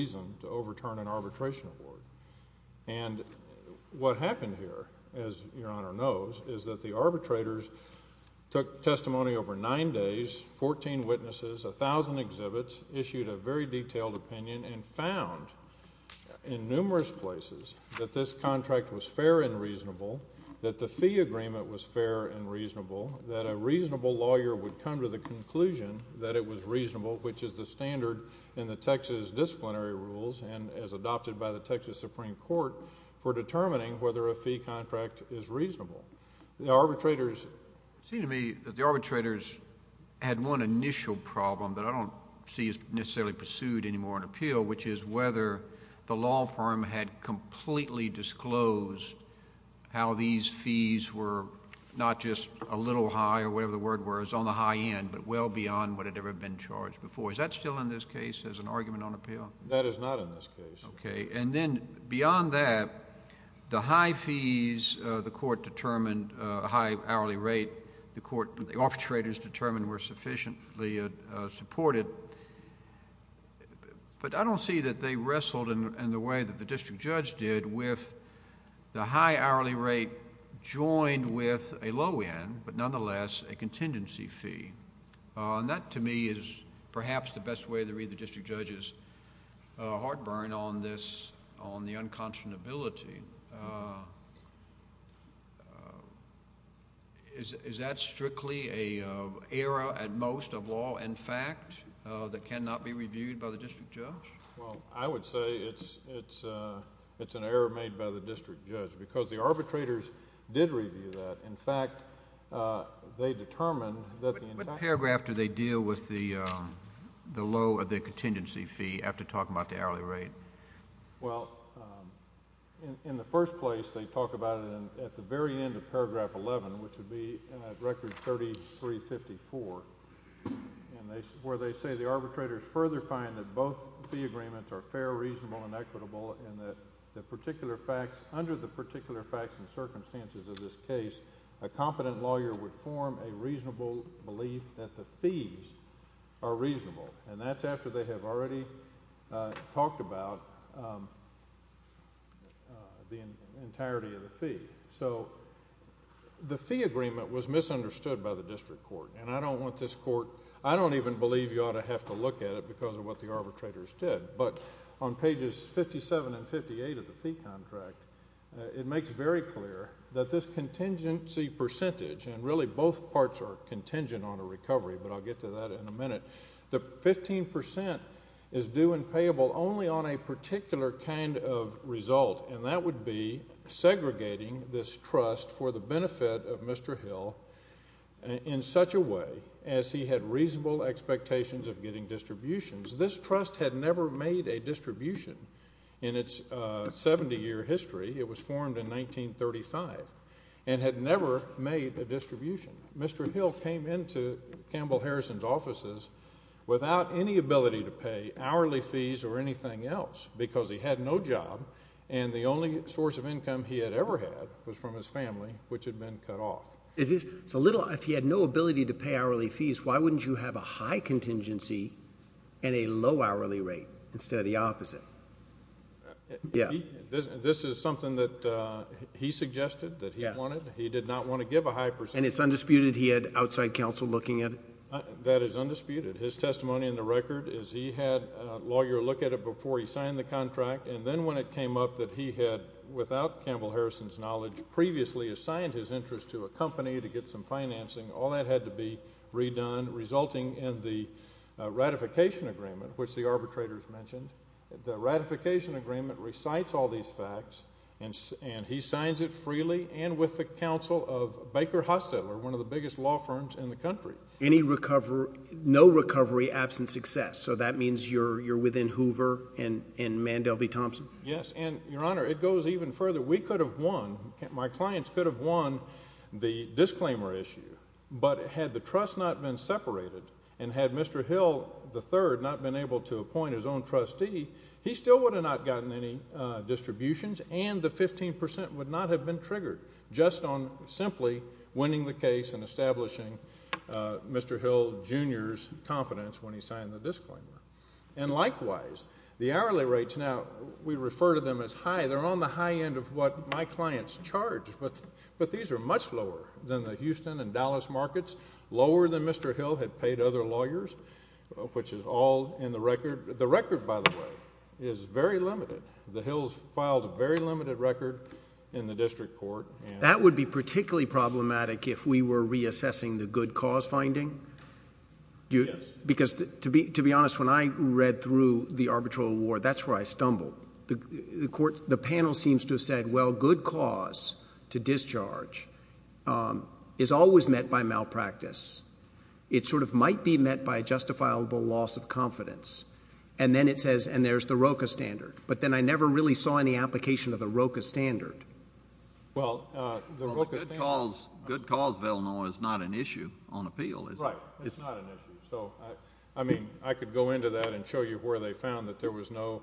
by the Texas Supreme Court for determining whether a fee contract is reasonable. The arbitrators had one initial problem that I don't see is necessarily pursued anymore on appeal, which is whether the law firm had completely disclosed how these fees were not just a little high or whatever the word was on the high end, but well beyond what had ever been charged before. Is that still in this case as an argument on appeal? That is not in this case. Okay. And then beyond that, the high fees the Court determined, high hourly rate the Court, the arbitrators determined were sufficiently supported, but I don't see that they wrestled in the way that the district judge did with the high hourly rate joined with a low end, but nonetheless a contingency fee. And that to me is perhaps the best way to get the district judge's heartburn on this, on the unconscionability. Is that strictly an error at most of law and fact that cannot be reviewed by the district judge? Well, I would say it's an error made by the district judge because the arbitrators did review that. In fact, they determined that the entire... Well, in the first place, they talk about it at the very end of paragraph 11, which would be in record 3354, where they say the arbitrators further find that both fee agreements are fair, reasonable, and equitable, and that the particular facts under the particular facts and circumstances of this case, a competent lawyer would form a are reasonable, and that's after they have already talked about the entirety of the fee. So the fee agreement was misunderstood by the district court, and I don't want this court... I don't even believe you ought to have to look at it because of what the arbitrators did, but on pages 57 and 58 of the fee contract, it makes very clear that this contingency percentage, and really both parts are contingent on a recovery, but I'll get to that in a minute. The 15 percent is due and payable only on a particular kind of result, and that would be segregating this trust for the benefit of Mr. Hill in such a way as he had reasonable expectations of getting distributions. This trust had never made a distribution in its 70-year history. It was formed in 1935, and had never made a distribution. Mr. Hill came into Campbell Harrison's offices without any ability to pay hourly fees or anything else because he had no job, and the only source of income he had ever had was from his family, which had been cut off. If he had no ability to pay hourly fees, why wouldn't you have a high contingency and a low hourly rate instead of the opposite? This is something that he suggested that he wanted. He did not want to give a high percentage. And it's undisputed he had outside counsel looking at it? That is undisputed. His testimony in the record is he had a lawyer look at it before he signed the contract, and then when it came up that he had, without Campbell Harrison's knowledge, previously assigned his interest to a company to get some financing, all that had to be done resulting in the ratification agreement, which the arbitrators mentioned. The ratification agreement recites all these facts, and he signs it freely and with the counsel of Baker Hostetler, one of the biggest law firms in the country. Any recovery, no recovery, absent success. So that means you're within Hoover and Mandelby Thompson? Yes. And, Your Honor, it goes even further. We could have won, my clients could have won the disclaimer issue, but had the trust not been separated, and had Mr. Hill III not been able to appoint his own trustee, he still would have not gotten any distributions, and the 15 percent would not have been triggered just on simply winning the case and establishing Mr. Hill Jr.'s confidence when he signed the disclaimer. And likewise, the hourly rates now, we refer to them as high. They're on the high end of what my clients charge, but these are much lower than the Houston and Dallas markets, lower than Mr. Hill had paid other lawyers, which is all in the record. The record, by the way, is very limited. The Hills filed a very limited record in the district court. That would be particularly problematic if we were reassessing the good cause finding? Yes. Because, to be honest, when I read through the arbitral award, that's where I stumbled. The panel seems to have said, well, good cause to discharge is always met by malpractice. It sort of might be met by a justifiable loss of confidence. And then it says, and there's the ROCA standard. But then I never really saw any application of the ROCA standard. Well, the ROCA standard... Well, the good cause Villanoa is not an issue on appeal, is it? Right. It's not an issue. So, I mean, I could go into that and show you where they found that there was no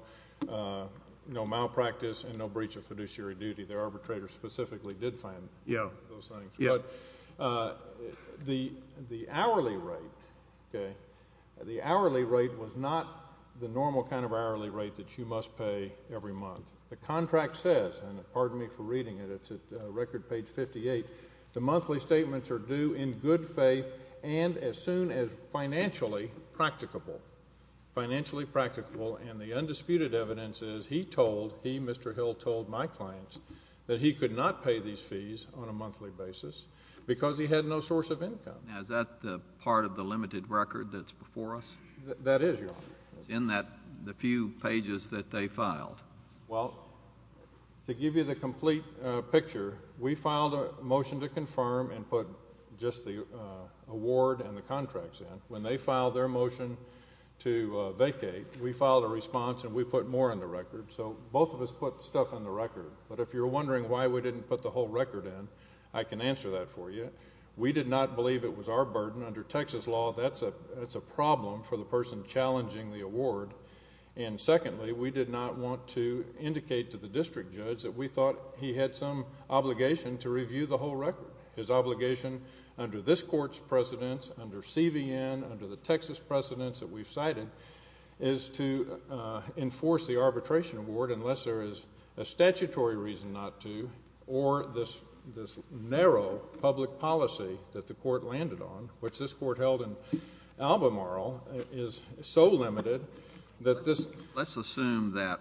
malpractice and no breach of fiduciary duty. Their arbitrator specifically did find those things. Yeah. But the hourly rate, okay, the hourly rate was not the normal kind of hourly rate that you must pay every month. The contract says, and pardon me for reading it, it's at record page 58, the monthly statements are due in good faith and as soon as financially practicable. Financially practicable and the undisputed evidence is he told, he, Mr. Hill, told my clients that he could not pay these fees on a monthly basis because he had no source of income. Now, is that part of the limited record that's before us? That is, Your Honor. It's in the few pages that they filed. Well, to give you the complete picture, we filed a motion to confirm and put just the award and the contracts in. When they filed their motion to vacate, we filed a response and we put more in the record. So, both of us put stuff in the record. But if you're wondering why we didn't put the whole record in, I can answer that for you. We did not believe it was our burden. Under Texas law, that's a problem for the person challenging the award. And secondly, we did not want to indicate to the district judge that we thought he had some obligation to review the whole record. His obligation under this court's precedence, under CVN, under the Texas precedence that we've cited, is to enforce the arbitration award unless there is a statutory reason not to or this narrow public policy that the court landed on, which this court held in Albemarle, is so limited that this... Let's assume that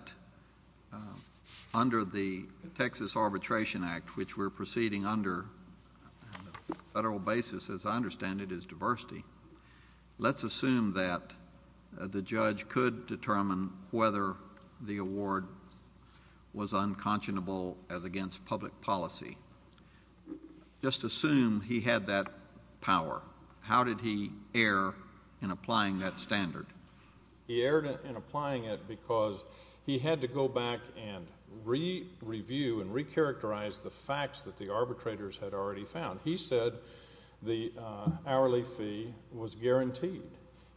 under the Texas Arbitration Act, which we're proceeding under on a federal basis, as I understand it, is diversity. Let's assume that the judge could determine whether the award was unconscionable as against public policy. Just assume he had that power. How did he err in applying that standard? He erred in applying it because he had to go back and re-review and re-characterize the facts that the arbitrators had already found. He said the hourly fee was guaranteed.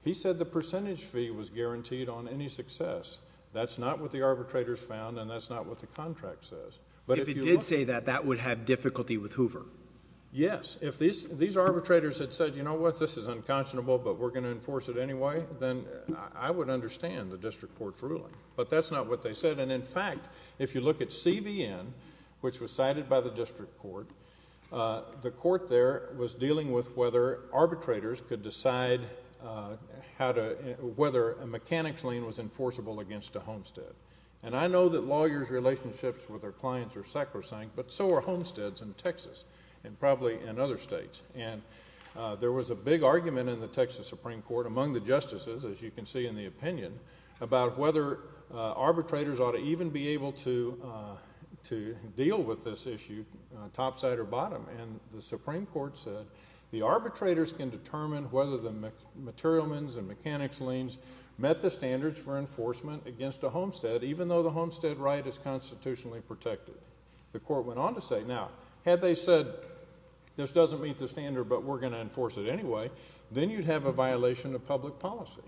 He said the percentage fee was guaranteed on any success. That's not what the arbitrators found, and that's not what the contract says. If he did say that, that would have difficulty with Hoover. Yes. If these arbitrators had said, you know what, this is unconscionable, but we're going to enforce it anyway, then I would understand the district court's ruling. But that's not what they said. In fact, if you look at CVN, which was cited by the district court, the court there was dealing with whether arbitrators could decide whether a mechanics lien was enforceable against a homestead. I know that lawyers' relationships with their clients are sacrosanct, but so are homesteads in Texas and probably in other states. There was a big argument in the Texas Supreme Court among the justices, as you can see in the opinion, about whether arbitrators ought to even be able to deal with this issue topside or bottom. And the Supreme Court said the arbitrators can determine whether the material means and mechanics liens met the standards for enforcement against a homestead, even though the homestead right is constitutionally protected. The court went on to say, now, had they said this doesn't meet the standard, but we're going to enforce it anyway, then you'd have a violation of public policy.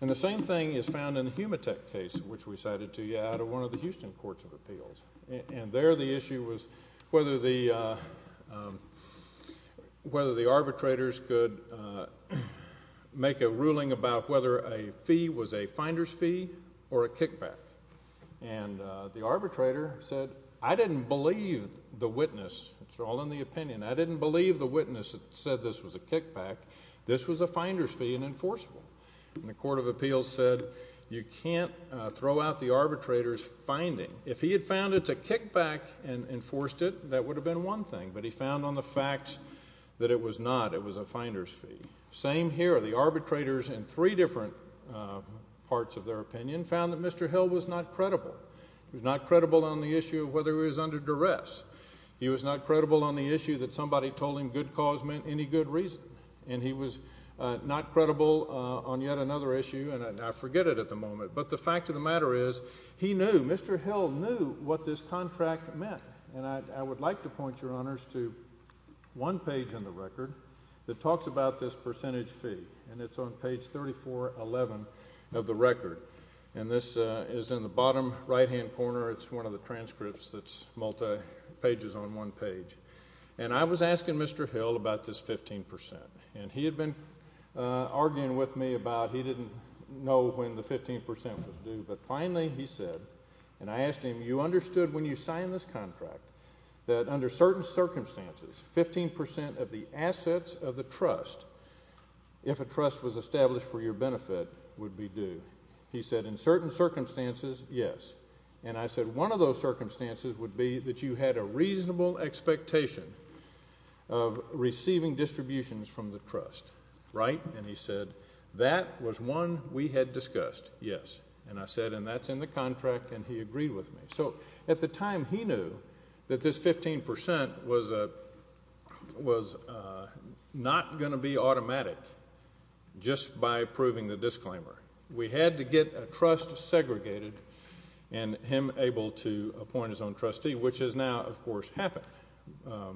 And the same thing is found in the Humatech case, which we cited to you out of one of the Houston courts of appeals. And there the issue was whether the arbitrators could make a ruling about whether a fee was a finder's fee or a kickback. And the arbitrator said, I didn't believe the witness. It's all in the opinion. I didn't believe the witness said this was a kickback. This was a finder's fee and enforceable. And the court of appeals said you can't throw out the arbitrator's finding. If he had found it's a kickback and enforced it, that would have been one thing. But he found on the facts that it was not. It was a finder's fee. Same here. The arbitrators in three different parts of their opinion found that Mr. Hill was not credible. He was not credible on the issue of whether he was under duress. He was not credible on the issue that somebody told him good cause meant any good reason. And he was not credible on yet another issue. And I forget it at the moment. But the fact of the matter is, he knew, Mr. Hill knew what this contract meant. And I would like to point your honors to one page in the record that talks about this percentage fee. And it's on page 3411 of the record. And this is in the bottom right-hand corner. It's one of the transcripts that's multi pages on one page. And I was asking Mr. Hill about this 15%. And he had been arguing with me about he didn't know when the 15% was due. But finally he said, and I asked him, you understood when you signed this contract that under certain circumstances what was established for your benefit would be due. He said, in certain circumstances, yes. And I said, one of those circumstances would be that you had a reasonable expectation of receiving distributions from the trust. Right? And he said, that was one we had discussed. Yes. And I said, and that's in the contract. And he agreed with me. So at the time he knew that this 15% was not going to be automatic just by approving the disclaimer. We had to get a trust segregated and him able to appoint his own trustee, which has now, of course, happened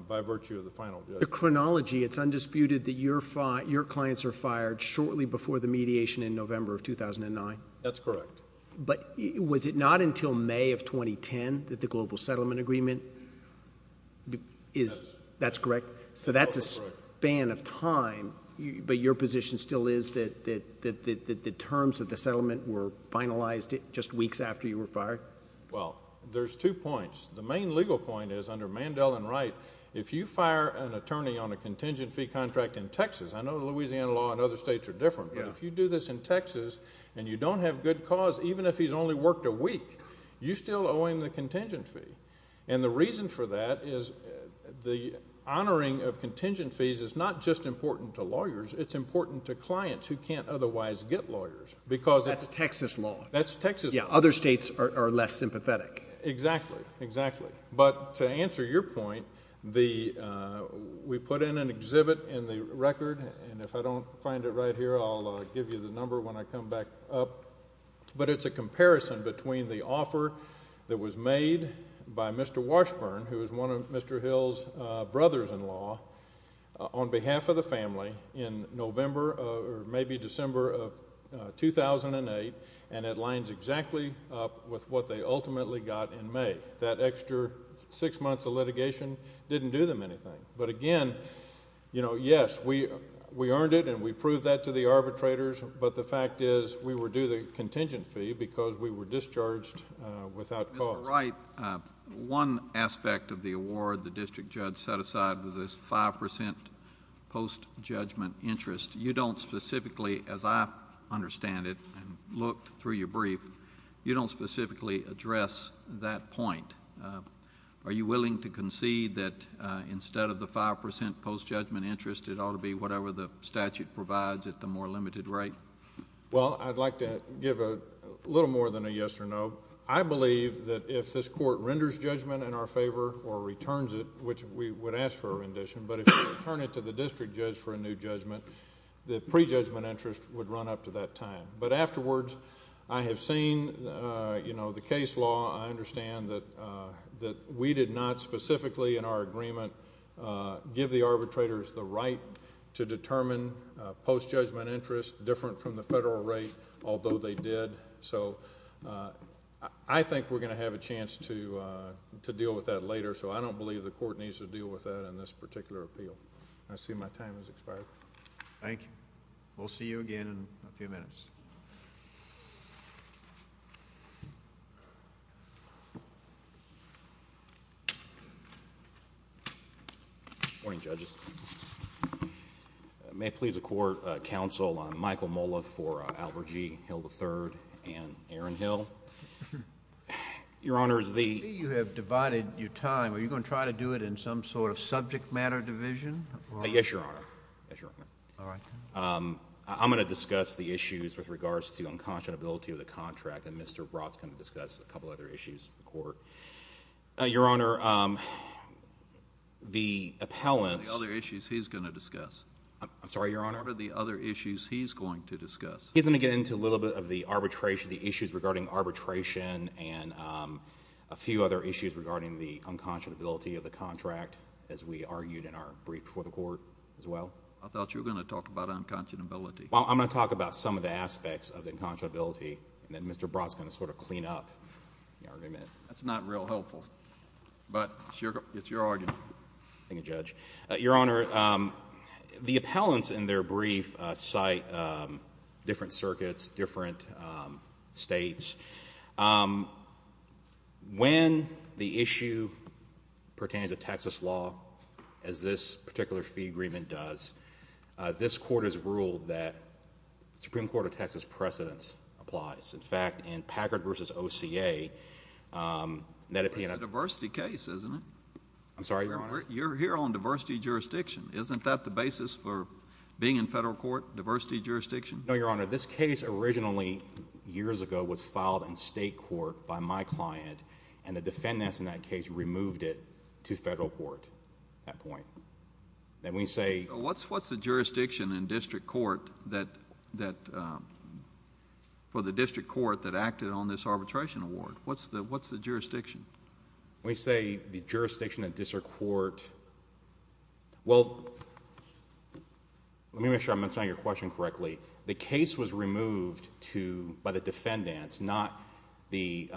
by virtue of the final judgment. The chronology, it's undisputed that your clients are fired shortly before the mediation in November of 2009? That's correct. But was it not until May of 2010 that the global settlement agreement is, that's correct? So that's a span of time, but your position still is that the terms of the settlement were finalized just weeks after you were fired? Well, there's two points. The main legal point is under Mandel and Wright, if you fire an attorney on a contingent fee contract in Texas, I know the Louisiana law and other states are different, but if you do this in Texas and you don't have good cause, even if he's only worked a week, you're still owing the contingent fee. And the reason for that is the honoring of contingent fees is not just important to lawyers, it's important to clients who can't otherwise get lawyers. Because that's Texas law. That's Texas law. Yeah. Other states are less sympathetic. Exactly. Exactly. But to answer your point, we put in an exhibit in the record, and if I don't find it right here, I'll give you the number when I come back up, but it's a comparison between the offer that was made by Mr. Washburn, who is one of Mr. Hill's brothers-in-law, on behalf of the family in November or maybe December of 2008, and it lines exactly up with what they ultimately got in May. That extra six months of litigation didn't do them anything. But again, yes, we earned it and we proved that to the arbitrators, but the fact is we were due the contingent fee because we were discharged without cause. That's right. One aspect of the award the district judge set aside was this 5% post-judgment interest. You don't specifically, as I understand it and looked through your brief, you don't think to concede that instead of the 5% post-judgment interest, it ought to be whatever the statute provides at the more limited rate? Well, I'd like to give a little more than a yes or no. I believe that if this court renders judgment in our favor or returns it, which we would ask for a rendition, but if we return it to the district judge for a new judgment, the pre-judgment interest would run up to that time. But afterwards, I have seen the case law. I understand that we did not specifically in our agreement give the arbitrators the right to determine post-judgment interest different from the federal rate, although they did. So I think we're going to have a chance to deal with that later, so I don't believe the court needs to deal with that in this particular appeal. I see my time has expired. Thank you. We'll see you again in a few minutes. Good morning, judges. May it please the court, counsel Michael Molliff for Albert G. Hill III and Aaron Hill. Your Honor, is the I see you have divided your time. Are you going to try to do it in some sort of subject matter division? Yes, Your Honor. Yes, Your Honor. All right. I'm going to discuss the issues with regards to unconscionability of the contract, and some of the other issues of the court. Your Honor, the appellants What are the other issues he's going to discuss? I'm sorry, Your Honor? What are the other issues he's going to discuss? He's going to get into a little bit of the arbitration, the issues regarding arbitration, and a few other issues regarding the unconscionability of the contract, as we argued in our brief before the court as well. I thought you were going to talk about unconscionability. Well, I'm going to talk about some of the aspects of the unconscionability, and then Mr. Brott's going to sort of clean up the argument. That's not real helpful, but it's your argument. Thank you, Judge. Your Honor, the appellants in their brief cite different circuits, different states. When the issue pertains to Texas law, as this particular fee agreement does, this court has ruled that the Supreme Court of Texas precedence applies. In fact, in Packard v. OCA, That's a diversity case, isn't it? I'm sorry, Your Honor? You're here on diversity jurisdiction. Isn't that the basis for being in federal court, diversity jurisdiction? No, Your Honor. This case originally, years ago, was filed in state court by my client, and the defendants in that case removed it to federal court at that point. Then we say... What's the jurisdiction in district court for the district court that acted on this arbitration award? What's the jurisdiction? We say the jurisdiction in district court... Well, let me make sure I'm answering your question correctly. The case was removed by the defendants, not the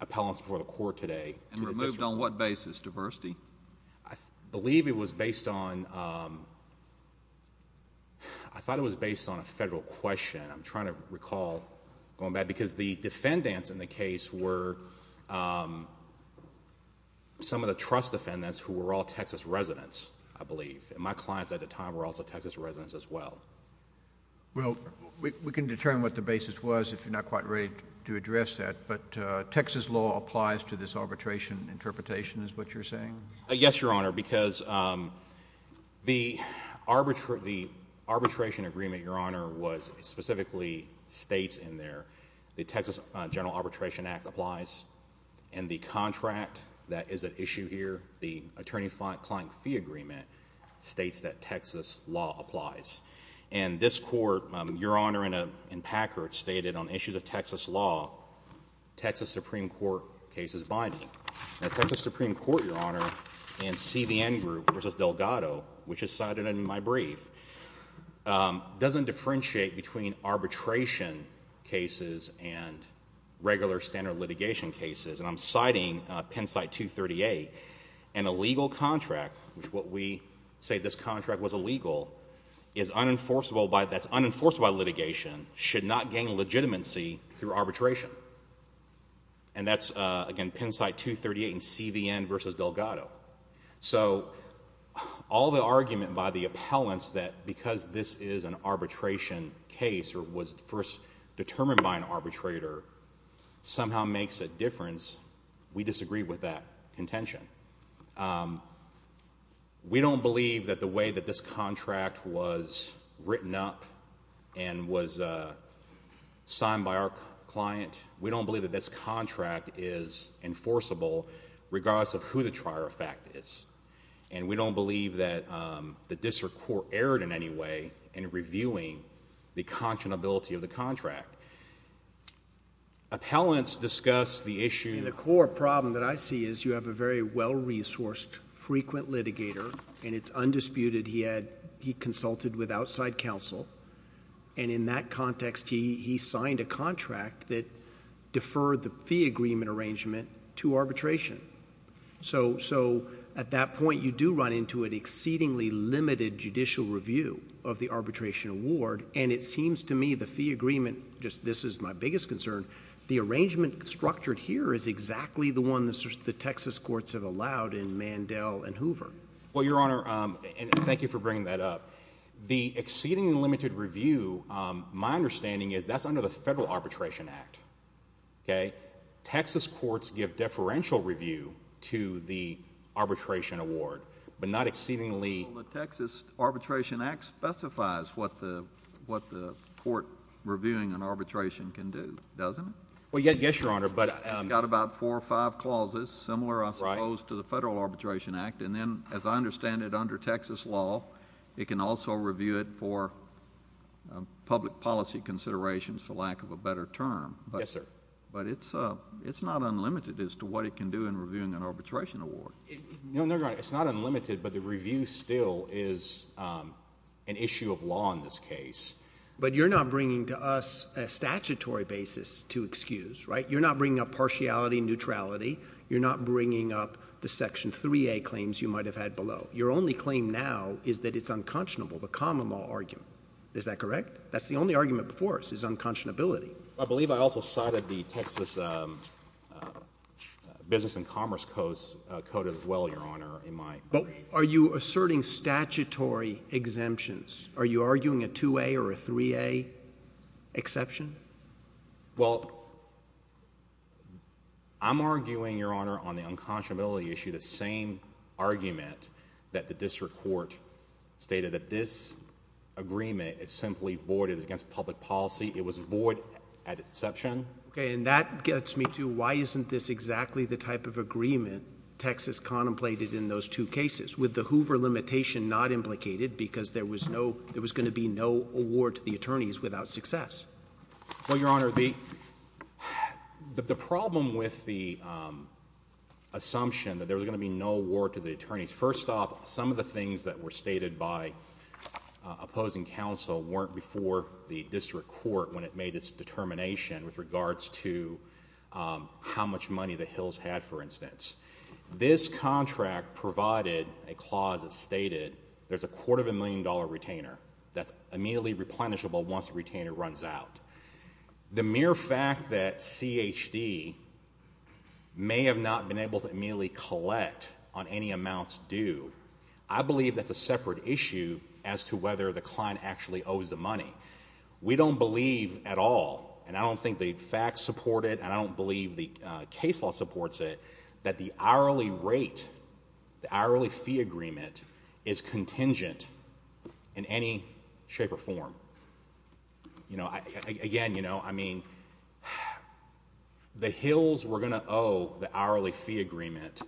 I thought it was based on a federal question. I'm trying to recall going back, because the defendants in the case were some of the trust defendants who were all Texas residents, I believe. My clients at the time were also Texas residents as well. We can determine what the basis was if you're not quite ready to address that, but Texas law applies to this arbitration interpretation, is what you're saying? Yes, Your Honor, because the arbitration agreement, Your Honor, specifically states in there the Texas General Arbitration Act applies, and the contract that is at issue here, the attorney-client fee agreement, states that Texas law applies. And this court, Your Honor, in Packard, stated on issues of Texas law, Texas Supreme Court case is binding. Now, Texas Supreme Court, Your Honor, and CBN Group versus Delgado, which is cited in my brief, doesn't differentiate between arbitration cases and regular standard litigation cases. And I'm citing Pennsite 238, and a legal contract, which what we say this contract was illegal, is unenforceable by litigation, should not gain legitimacy through arbitration. And that's, again, Pennsite 238 and CBN versus Delgado. So, all the argument by the appellants that because this is an arbitration case, or was first determined by an arbitrator, somehow makes a difference, we disagree with that contention. We don't believe that the way that this contract was written up and was signed by our client, we don't believe that this contract is enforceable, regardless of who the trier of fact is. And we don't believe that this court erred in any way in reviewing the conscionability of the contract. Appellants discuss the issue... The core problem that I see is you have a very well-resourced, frequent litigator, and it's undisputed he consulted with outside counsel. And in that context, he signed a contract that deferred the fee agreement arrangement to arbitration. So, at that point, you do run into an exceedingly limited judicial review of the arbitration award. And it seems to me the fee agreement, this is my biggest concern, the arrangement structured here is exactly the one the Texas courts have allowed in Mandel and Hoover. Well, Your Honor, and thank you for bringing that up, the exceedingly limited review, my understanding is that's under the Federal Arbitration Act. Okay? Texas courts give deferential review to the arbitration award, but not exceedingly... Well, the Texas Arbitration Act specifies what the court reviewing an arbitration can do, doesn't it? Well, yes, Your Honor, but... It's got about four or five clauses similar, I suppose, to the Federal Arbitration Act. And then, as I understand it, under Texas law, it can also review it for public policy considerations, for lack of a better term. Yes, sir. But it's not unlimited as to what it can do in reviewing an arbitration award. No, Your Honor, it's not unlimited, but the review still is an issue of law in this case. But you're not bringing to us a statutory basis to excuse, right? You're not bringing up partiality and neutrality. You're not bringing up the Section 3A claims you might have had below. Your only claim now is that it's unconscionable, the common law argument. Is that correct? That's the only argument before us, is unconscionability. I believe I also cited the Texas Business and Commerce Code as well, Your Honor, in my brief. But are you asserting statutory exemptions? Are you arguing a 2A or a 3A exception? Well, I'm arguing, Your Honor, on the unconscionability issue, the same argument that the district court stated, that this agreement is simply void. It's against public policy. It was void at exception. Okay. And that gets me to why isn't this exactly the type of agreement Texas contemplated in those two cases, with the Hoover limitation not implicated because there was going to be no award to the attorneys without success? Well, Your Honor, the problem with the assumption that there was going to be no award to the attorneys, first off, some of the things that were stated by opposing counsel weren't before the district court when it made its determination with regards to how much money the Hills had, for instance. This contract provided a clause that stated there's a quarter of a million dollar retainer that's immediately replenishable once the retainer runs out. The mere fact that CHD may have not been able to immediately collect on any amounts due, I believe that's a separate issue as to whether the client actually owes the money. We don't believe at all, and I don't think the facts support it, and I don't believe the case law supports it, that the hourly rate, the hourly fee agreement is contingent in any shape or form. Again, I mean, the Hills were going to owe the hourly fee agreement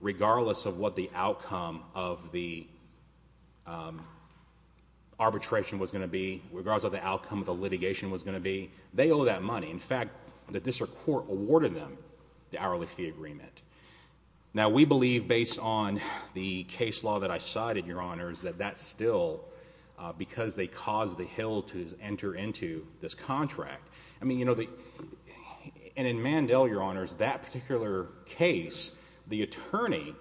regardless of what the outcome of the arbitration was going to be, regardless of the outcome of the litigation was going to be. They owe that money. In fact, the district court awarded them the hourly fee agreement. Now, we believe, based on the case law that I cited, Your Honors, that that's still because they caused the Hill to enter into this contract. I mean, you know, and in Mandel, Your Honors, that particular case, the attorney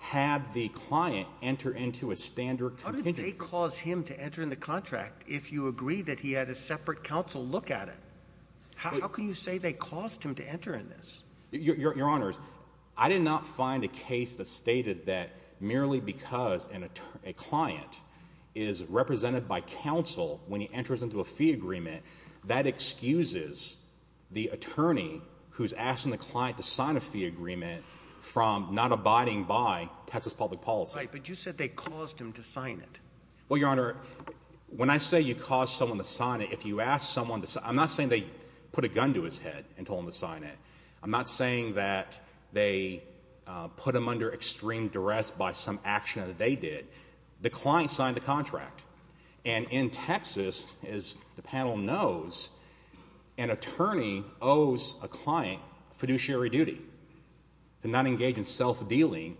had the client enter into a standard fee agreement. How did they cause him to enter into the contract if you agree that he had a separate counsel look at it? How can you say they caused him to enter into this? Your Honors, I did not find a case that stated that merely because a client is represented by counsel when he enters into a fee agreement, that excuses the attorney who is asking the client to sign a fee agreement from not abiding by Texas public policy. Right, but you said they caused him to sign it. Well, Your Honor, when I say you caused someone to sign it, if you ask someone to sign it, I'm not saying they put a gun to his head and told him to sign it. I'm not saying that they put him under extreme duress by some action that they did. The client signed the contract, and in Texas, as the panel knows, an attorney owes a client fiduciary duty to not engage in self-dealing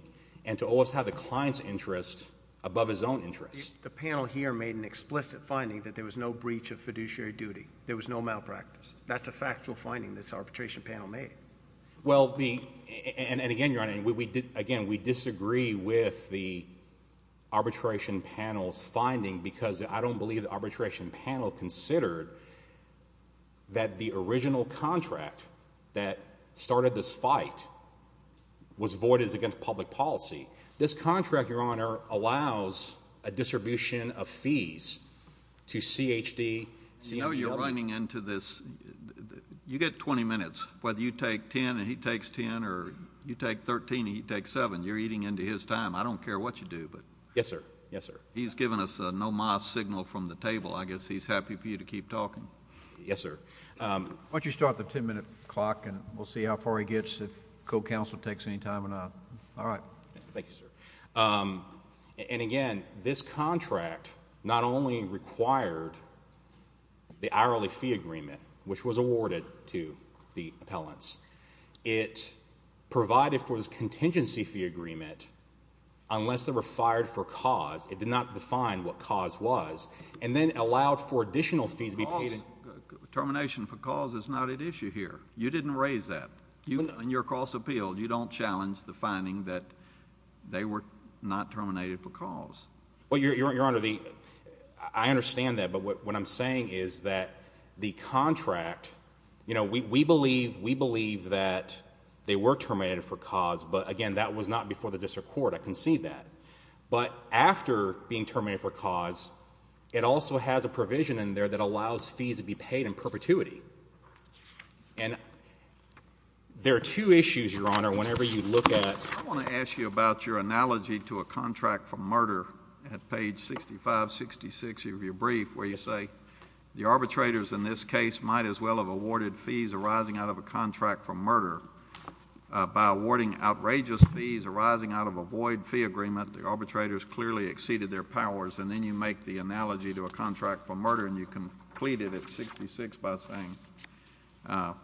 and to always have the client's interest above his own interest. The panel here made an explicit finding that there was no breach of fiduciary duty. There was no malpractice. That's a factual finding this arbitration panel made. Well, and again, Your Honor, we disagree with the arbitration panel's finding because I don't believe the arbitration panel considered that the original contract that started this fight was voided as against public policy. This contract, Your Honor, allows a distribution of fees to CHD, and I don't believe that the arbitration panel considered that the original contract that started this fight was voided as against public policy. I know you're running into this. You get 20 minutes. Whether you take 10 and he takes 10, or you take 13 and he takes 7, you're eating into his time. I don't care what you do. Yes, sir. Yes, sir. He's given us a no-moss signal from the table. I guess he's happy for you to keep talking. Yes, sir. Why don't you start the 10-minute clock, and we'll see how far he gets, if co-counsel takes any time or not. All right. Thank you, sir. And again, this contract not only required the hourly fee agreement, which was awarded to the appellants, it provided for this contingency fee agreement unless they were fired for cause. Termination for cause is not at issue here. You didn't raise that. In your cross-appeal, you don't challenge the finding that they were not terminated for cause. Well, Your Honor, I understand that, but what I'm saying is that the contract, we believe that they were terminated for cause, but again, that was not before the district court. I concede that. But after being terminated for cause, it also has a provision in there that allows fees to be paid in perpetuity. And there are two issues, Your Honor, whenever you look at... I want to ask you about your analogy to a contract for murder at page 6566 of your brief, where you say the arbitrators in this case might as well have awarded fees arising out of a contract for murder by awarding outrageous fees arising out of a void fee agreement. The arbitrators clearly exceeded their powers. And then you make the analogy to a contract for murder, and you complete it at 66 by saying...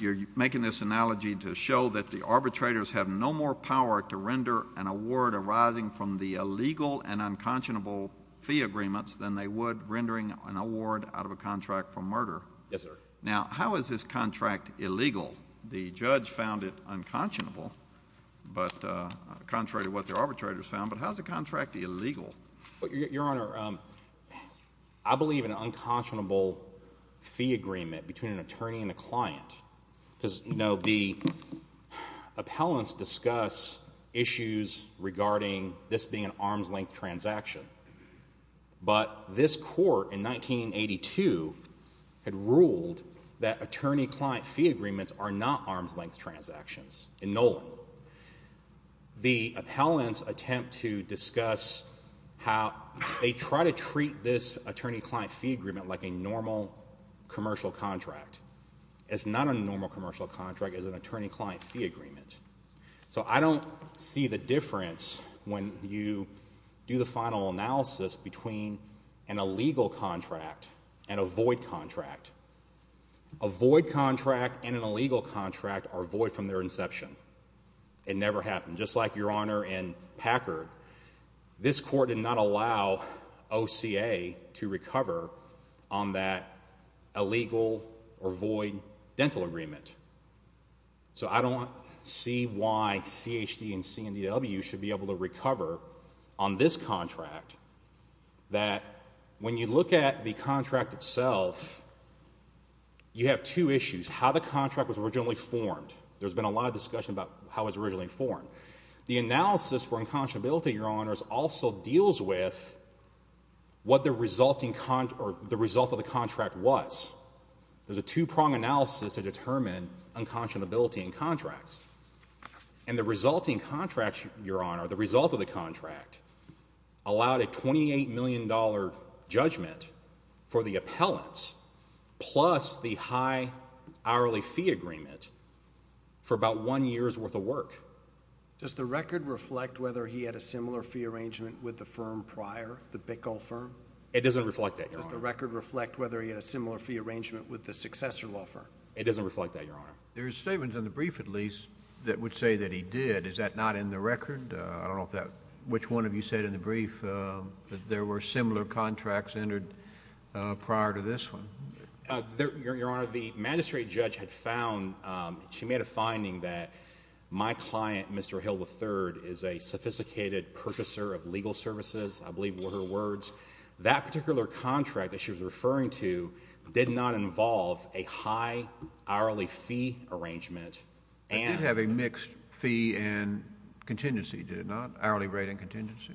you're making this analogy to show that the arbitrators have no more power to render an award arising from the illegal and unconscionable fee agreements than they would rendering an arbitrary contract illegal. The judge found it unconscionable, contrary to what the arbitrators found, but how is a contract illegal? Your Honor, I believe an unconscionable fee agreement between an attorney and a client... because the appellants discuss issues regarding this being an arm's length transaction. But this court in 1982 had ruled that attorney-client fee agreements are not arm's length transactions in Nolan. The appellants attempt to discuss how they try to treat this attorney-client fee agreement like a normal commercial contract. It's not a normal commercial contract. It's an attorney-client fee agreement. So I don't see the difference when you do the final analysis between an illegal contract and a void contract. A void contract and an illegal contract are void from their inception. It never happened. Just like Your Honor and Packard, this court did not allow OCA to recover on that illegal or void dental agreement. So I don't see why CHD and CNDW should be able to recover on this contract that when you look at the contract itself, you have two issues. How the contract was originally formed. There's been a lot of discussion about how it was originally formed. The analysis for unconscionability, Your Honors, also deals with what the result of the contract was. There's a two-pronged analysis to determine unconscionability in contracts. And the resulting contract, Your Honor, the result of the contract, allowed a $28 million judgment for the appellants plus the high hourly fee agreement for about one year's worth of work. Does the record reflect whether he had a similar fee arrangement with the firm prior, the Bickle firm? It doesn't reflect that, Your Honor. Does the record reflect whether he had a similar fee arrangement with the successor law firm? It doesn't reflect that, Your Honor. There's statements in the brief, at least, that would say that he did. Is that not in the record? I don't know which one of you said in the brief that there were similar contracts entered prior to this one. Your Honor, the magistrate judge had found, she made a finding that my client, Mr. Hill III, is a sophisticated purchaser of legal services, I believe were her words. That particular contract that she was referring to did not involve a high hourly fee arrangement. Did it have a mixed fee and contingency? Did it not? Hourly rate and contingency?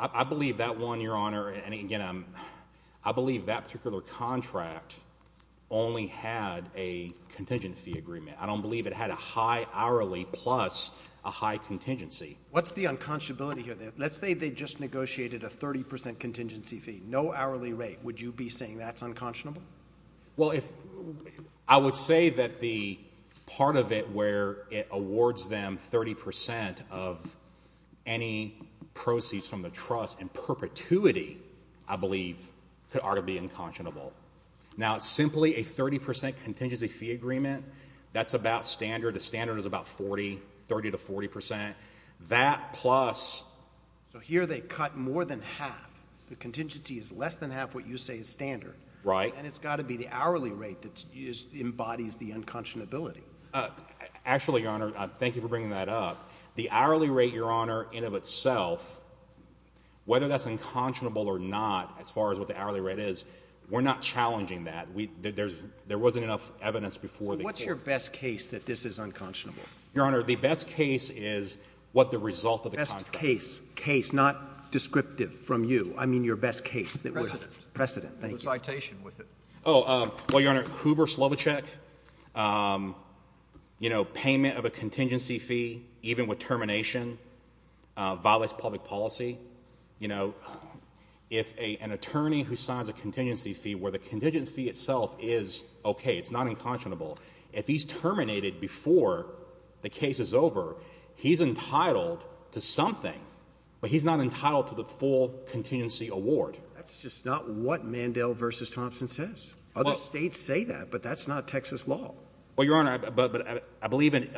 I believe that one, Your Honor, and again, I believe that particular contract only had a contingency agreement. I don't believe it had a high hourly plus a high contingency. What's the unconscionability here? Let's say they just negotiated a 30% contingency fee. No hourly rate. Would you be saying that's unconscionable? Well, I would say that the part of it where it awards them 30% of any proceeds from the trust in perpetuity, I believe, could already be unconscionable. Now, simply a 30% contingency fee agreement, that's about standard. The standard is about 40, 30 to 40%. That plus... So here they cut more than half. The contingency is less than half what you say is standard. Right. And it's unconscionable, Your Honor. Thank you for bringing that up. The hourly rate, Your Honor, in of itself, whether that's unconscionable or not, as far as what the hourly rate is, we're not challenging that. There wasn't enough evidence before the case. What's your best case that this is unconscionable? Your Honor, the best case is what the result of the contract... Best case. Case, not descriptive from you. I mean your best case. Precedent. Precedent, thank you. The citation with it. Oh, well, Your Honor, Hoover Slovichek, you know, payment of a contingency fee, even with termination, violates public policy. You know, if an attorney who signs a contingency fee where the contingency fee itself is okay, it's not unconscionable, if he's terminated before the case is over, he's entitled to something, but he's not entitled to the full contingency award. That's just not what Mandel v. Thompson says. Other states say that, but that's not Texas law. Well, Your Honor, but I believe in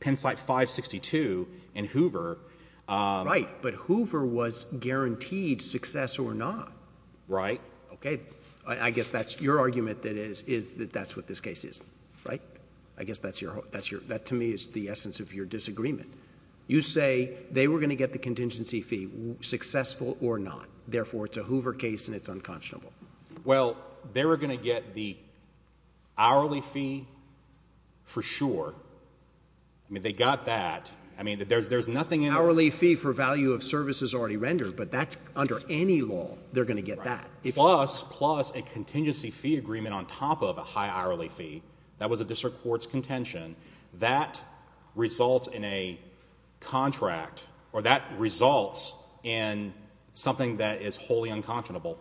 Penn State 562 and Hoover... Right, but Hoover was guaranteed success or not. Right. Okay. I guess that's your argument that that's what this case is, right? I guess that's your... successful or not. Therefore, it's a Hoover case and it's unconscionable. Well, they were going to get the hourly fee for sure. I mean, they got that. I mean, there's nothing in... Hourly fee for value of services already rendered, but that's under any law, they're going to get that. Plus a contingency fee agreement on top of a high hourly fee. That was a district court's contention. That results in a contract or that results in something that is wholly unconscionable.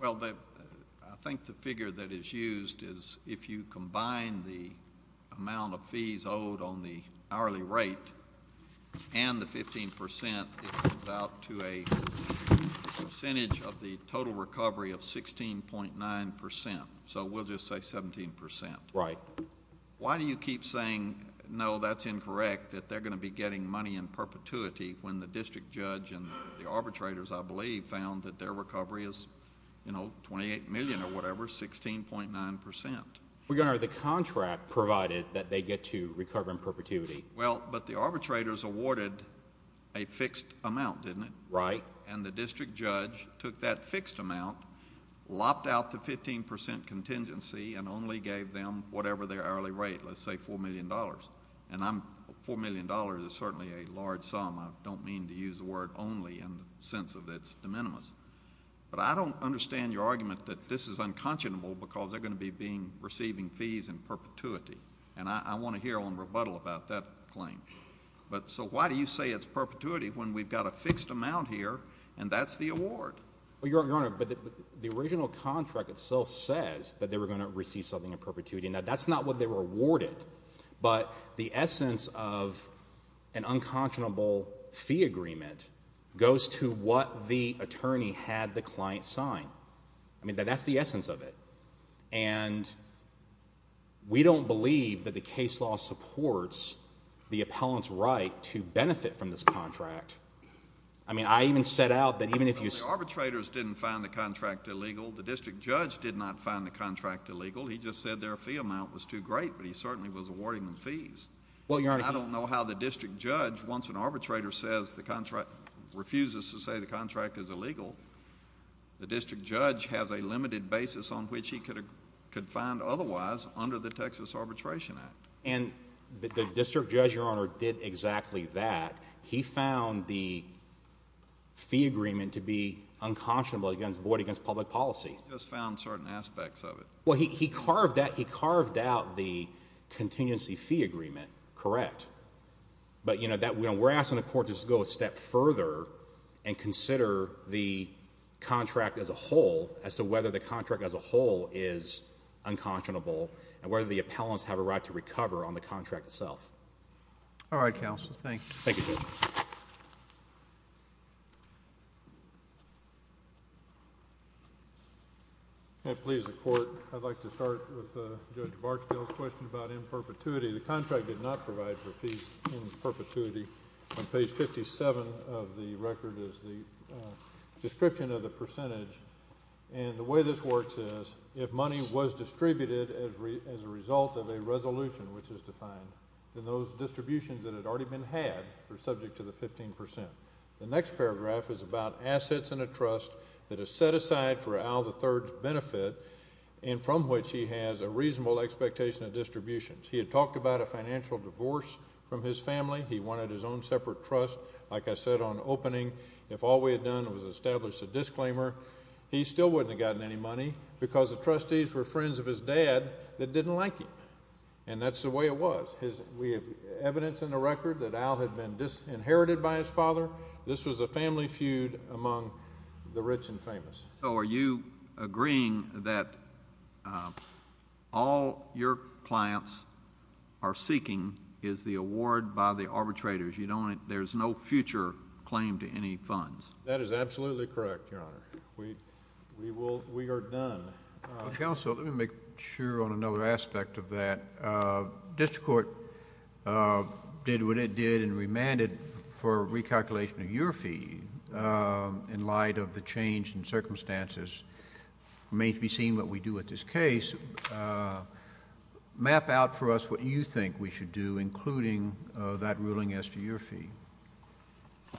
Well, I think the figure that is used is if you combine the amount of fees owed on the hourly rate and the 15%, it comes out to a percentage of the total recovery of 16.9%. So we'll just say 17%. Right. Why do you keep saying, no, that's incorrect, that they're going to be getting money in perpetuity when the district judge and the arbitrators, I believe, found that their recovery is 28 million or whatever, 16.9%? The contract provided that they get to recover in perpetuity. Well, but the arbitrators awarded a fixed amount, didn't it? Right. And the district judge took that fixed amount, lopped out the 15% contingency and only gave them whatever their hourly rate, let's say $4 million. And $4 million is certainly a large sum. I don't mean to use the word only in the sense of it's de minimis. But I don't understand your argument that this is unconscionable because they're going to be receiving fees in perpetuity. And I want to hear on rebuttal about that claim. So why do you say it's perpetuity when we've got a fixed amount here and that's the award? Well, Your Honor, the original contract itself says that they were going to receive something in perpetuity. Now, that's not what they were awarded. But the essence of an unconscionable fee agreement goes to what the attorney had the client sign. I mean, that's the essence of it. And we don't believe that the case law supports the appellant's right to benefit from this contract. I mean, I even set out that even if you... The arbitrators didn't find the contract illegal. The district judge did not find the contract illegal. He just said their fee amount was too great. But he certainly was awarding them fees. I don't know how the district judge, once an arbitrator refuses to say the contract is illegal, the district judge has a limited basis on which he could find otherwise under the Texas Arbitration Act. And the district judge, Your Honor, did exactly that. He found the fee agreement to be unconscionable against void against public policy. He just found certain aspects of it. Well, he carved out the contingency fee agreement, correct. But, you know, we're asking the court to just go a step further and consider the contract as a whole as to whether the contract as a whole is unconscionable and whether the appellants have a right to recover on the contract itself. All right, counsel. Thank you. Thank you, Judge. If that pleases the court, I'd like to ask a question about in perpetuity. The contract did not provide for fees in perpetuity. Page 57 of the record is the description of the percentage. And the way this works is if money was distributed as a result of a resolution which is defined in those distributions that had already been had are subject to the 15 percent. The next paragraph is about assets and a trust that from which he has a reasonable expectation of distributions. He had talked about a financial divorce from his family. He wanted his own separate trust. Like I said on opening, if all we had done was establish a disclaimer, he still wouldn't have gotten any money because the trustees were friends of his dad that didn't like him. And that's the way it was. We have evidence in the record that Al had been inherited by his father. This was a family feud among the rich and famous. So are you agreeing that all your clients are seeking is the award by the arbitrators? There's no future claim to any funds? That is absolutely correct, Your Honor. We are done. Counsel, let me make sure on another aspect of that. District Court did what it did and remanded for recalculation of your fee in light of the change in circumstances. It remains to be seen what we do with this case. Map out for us what you think we should do, including that ruling as to your fee.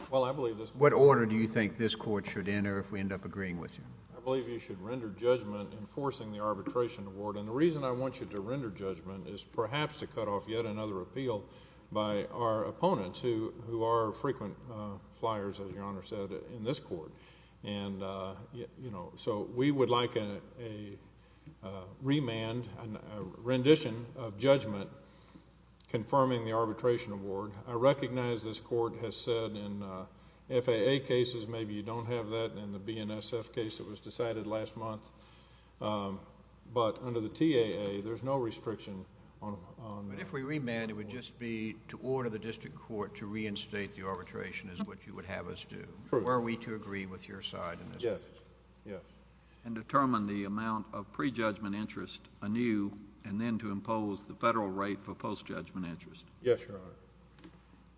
Well, I believe this... What order do you think this Court should enter if we end up agreeing with you? I believe you should render judgment enforcing the arbitration award. And the reason I want you to render judgment is perhaps to cut off yet another appeal by our opponents who are frequent flyers, as Your Honor said, in this Court. So we would like a remand, a rendition of judgment confirming the arbitration award. I recognize this Court has said in the past that we should not have a remand. But under the TAA, there's no restriction on... But if we remand, it would just be to order the District Court to reinstate the arbitration is what you would have us do. True. Were we to agree with your side in this case? Yes. Yes. And determine the amount of pre-judgment interest anew and then to impose the federal rate for post-judgment interest? Yes, Your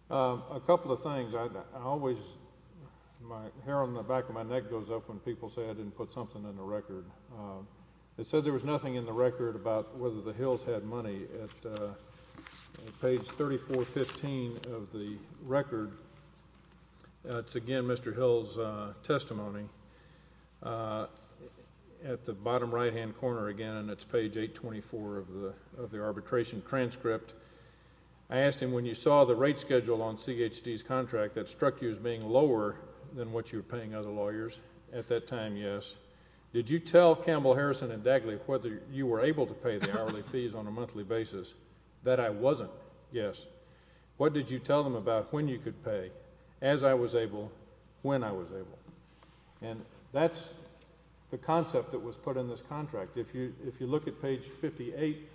Honor. A couple of things. I always... My hair on the back of my neck goes up when people say I didn't put something in the record. It said there was nothing in the record about whether the Hills had money. At page 3415 of the record, it's again Mr. Hill's testimony. At the bottom right-hand corner again, it's page 824 of the arbitration transcript. I asked him, when you saw the rate schedule on CHD's contract that struck you as being lower than what you were paying other lawyers at that time? Yes. Did you tell Campbell, Harrison, and Dagley whether you were able to pay the hourly fees on a monthly basis? That I wasn't. Yes. What did you tell them about when you could pay? As I was able, when I was able. And that's the concept that was put in this contract. If you look at page 58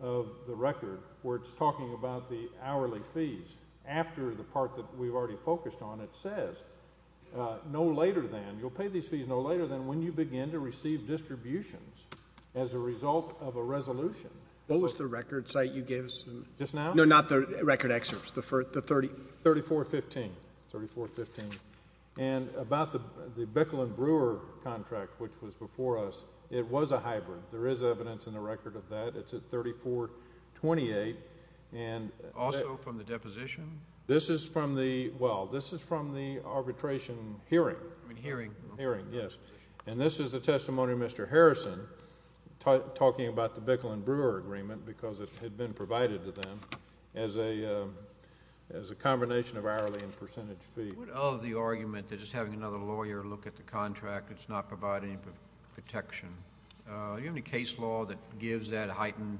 of the record where it's talking about the hourly fees after the part that we've already focused on, it says no later than... you'll pay these fees no later than when you begin to receive distributions as a result of a resolution. What was the record site you gave us? Just now? No, not the record excerpts. The 30... 3415. 3415. And about the Bicklin Brewer contract, which was before us, it was a hybrid. There is evidence in the record of that. It's at 3428. Also from the deposition? This is from the, well, this is from the arbitration hearing. Hearing. Hearing, yes. And this is the testimony of Mr. Harrison talking about the Bicklin Brewer agreement because it had been provided to them as a combination of hourly and percentage fee. What of the argument that just having another lawyer look at the contract, it's not providing protection? Do you have any case law that gives that heightened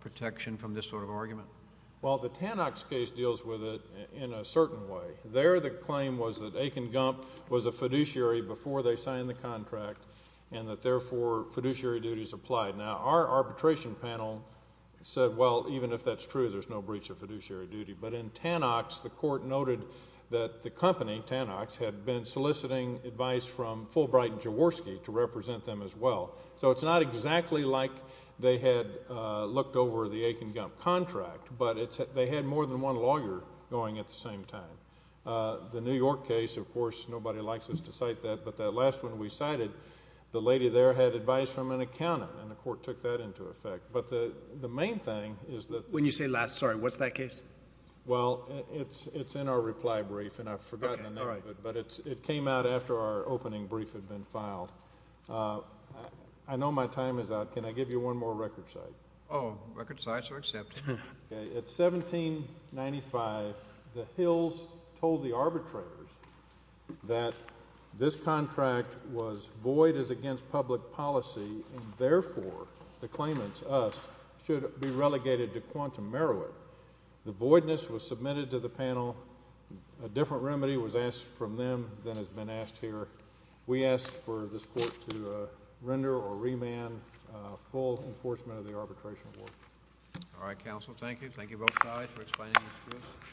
protection from this sort of argument? Well, the Tanox case deals with it in a certain way. There the claim was that Aiken Gump was a fiduciary before they signed the contract and that therefore fiduciary duties applied. Now, our arbitration panel said well, even if that's true, there's no breach of fiduciary duty. But in Tanox, the court noted that the company, Tanox, had been soliciting advice from Fulbright and Jaworski to represent them as well. So it's not exactly like they had looked over the same time. The New York case, of course, nobody likes us to cite that, but that last one we cited, the lady there had advice from an accountant and the court took that into effect. But the main thing is that... When you say last, sorry, what's that case? Well, it's in our reply brief and I've forgotten the name of it, but it came out after our opening brief had been filed. I know my time is out. Can I give you one more record cite? Oh, record cites are accepted. At 1795, the Hills told the arbitrators that this contract was void as against public policy and therefore the claimants, us, should be relegated to quantum merit. The voidness was submitted to the panel. A different remedy was asked from them than has been asked here. We asked for this court to render or remand full enforcement of the arbitration award. All right, counsel. Thank you. Thank you both sides for explaining this to us.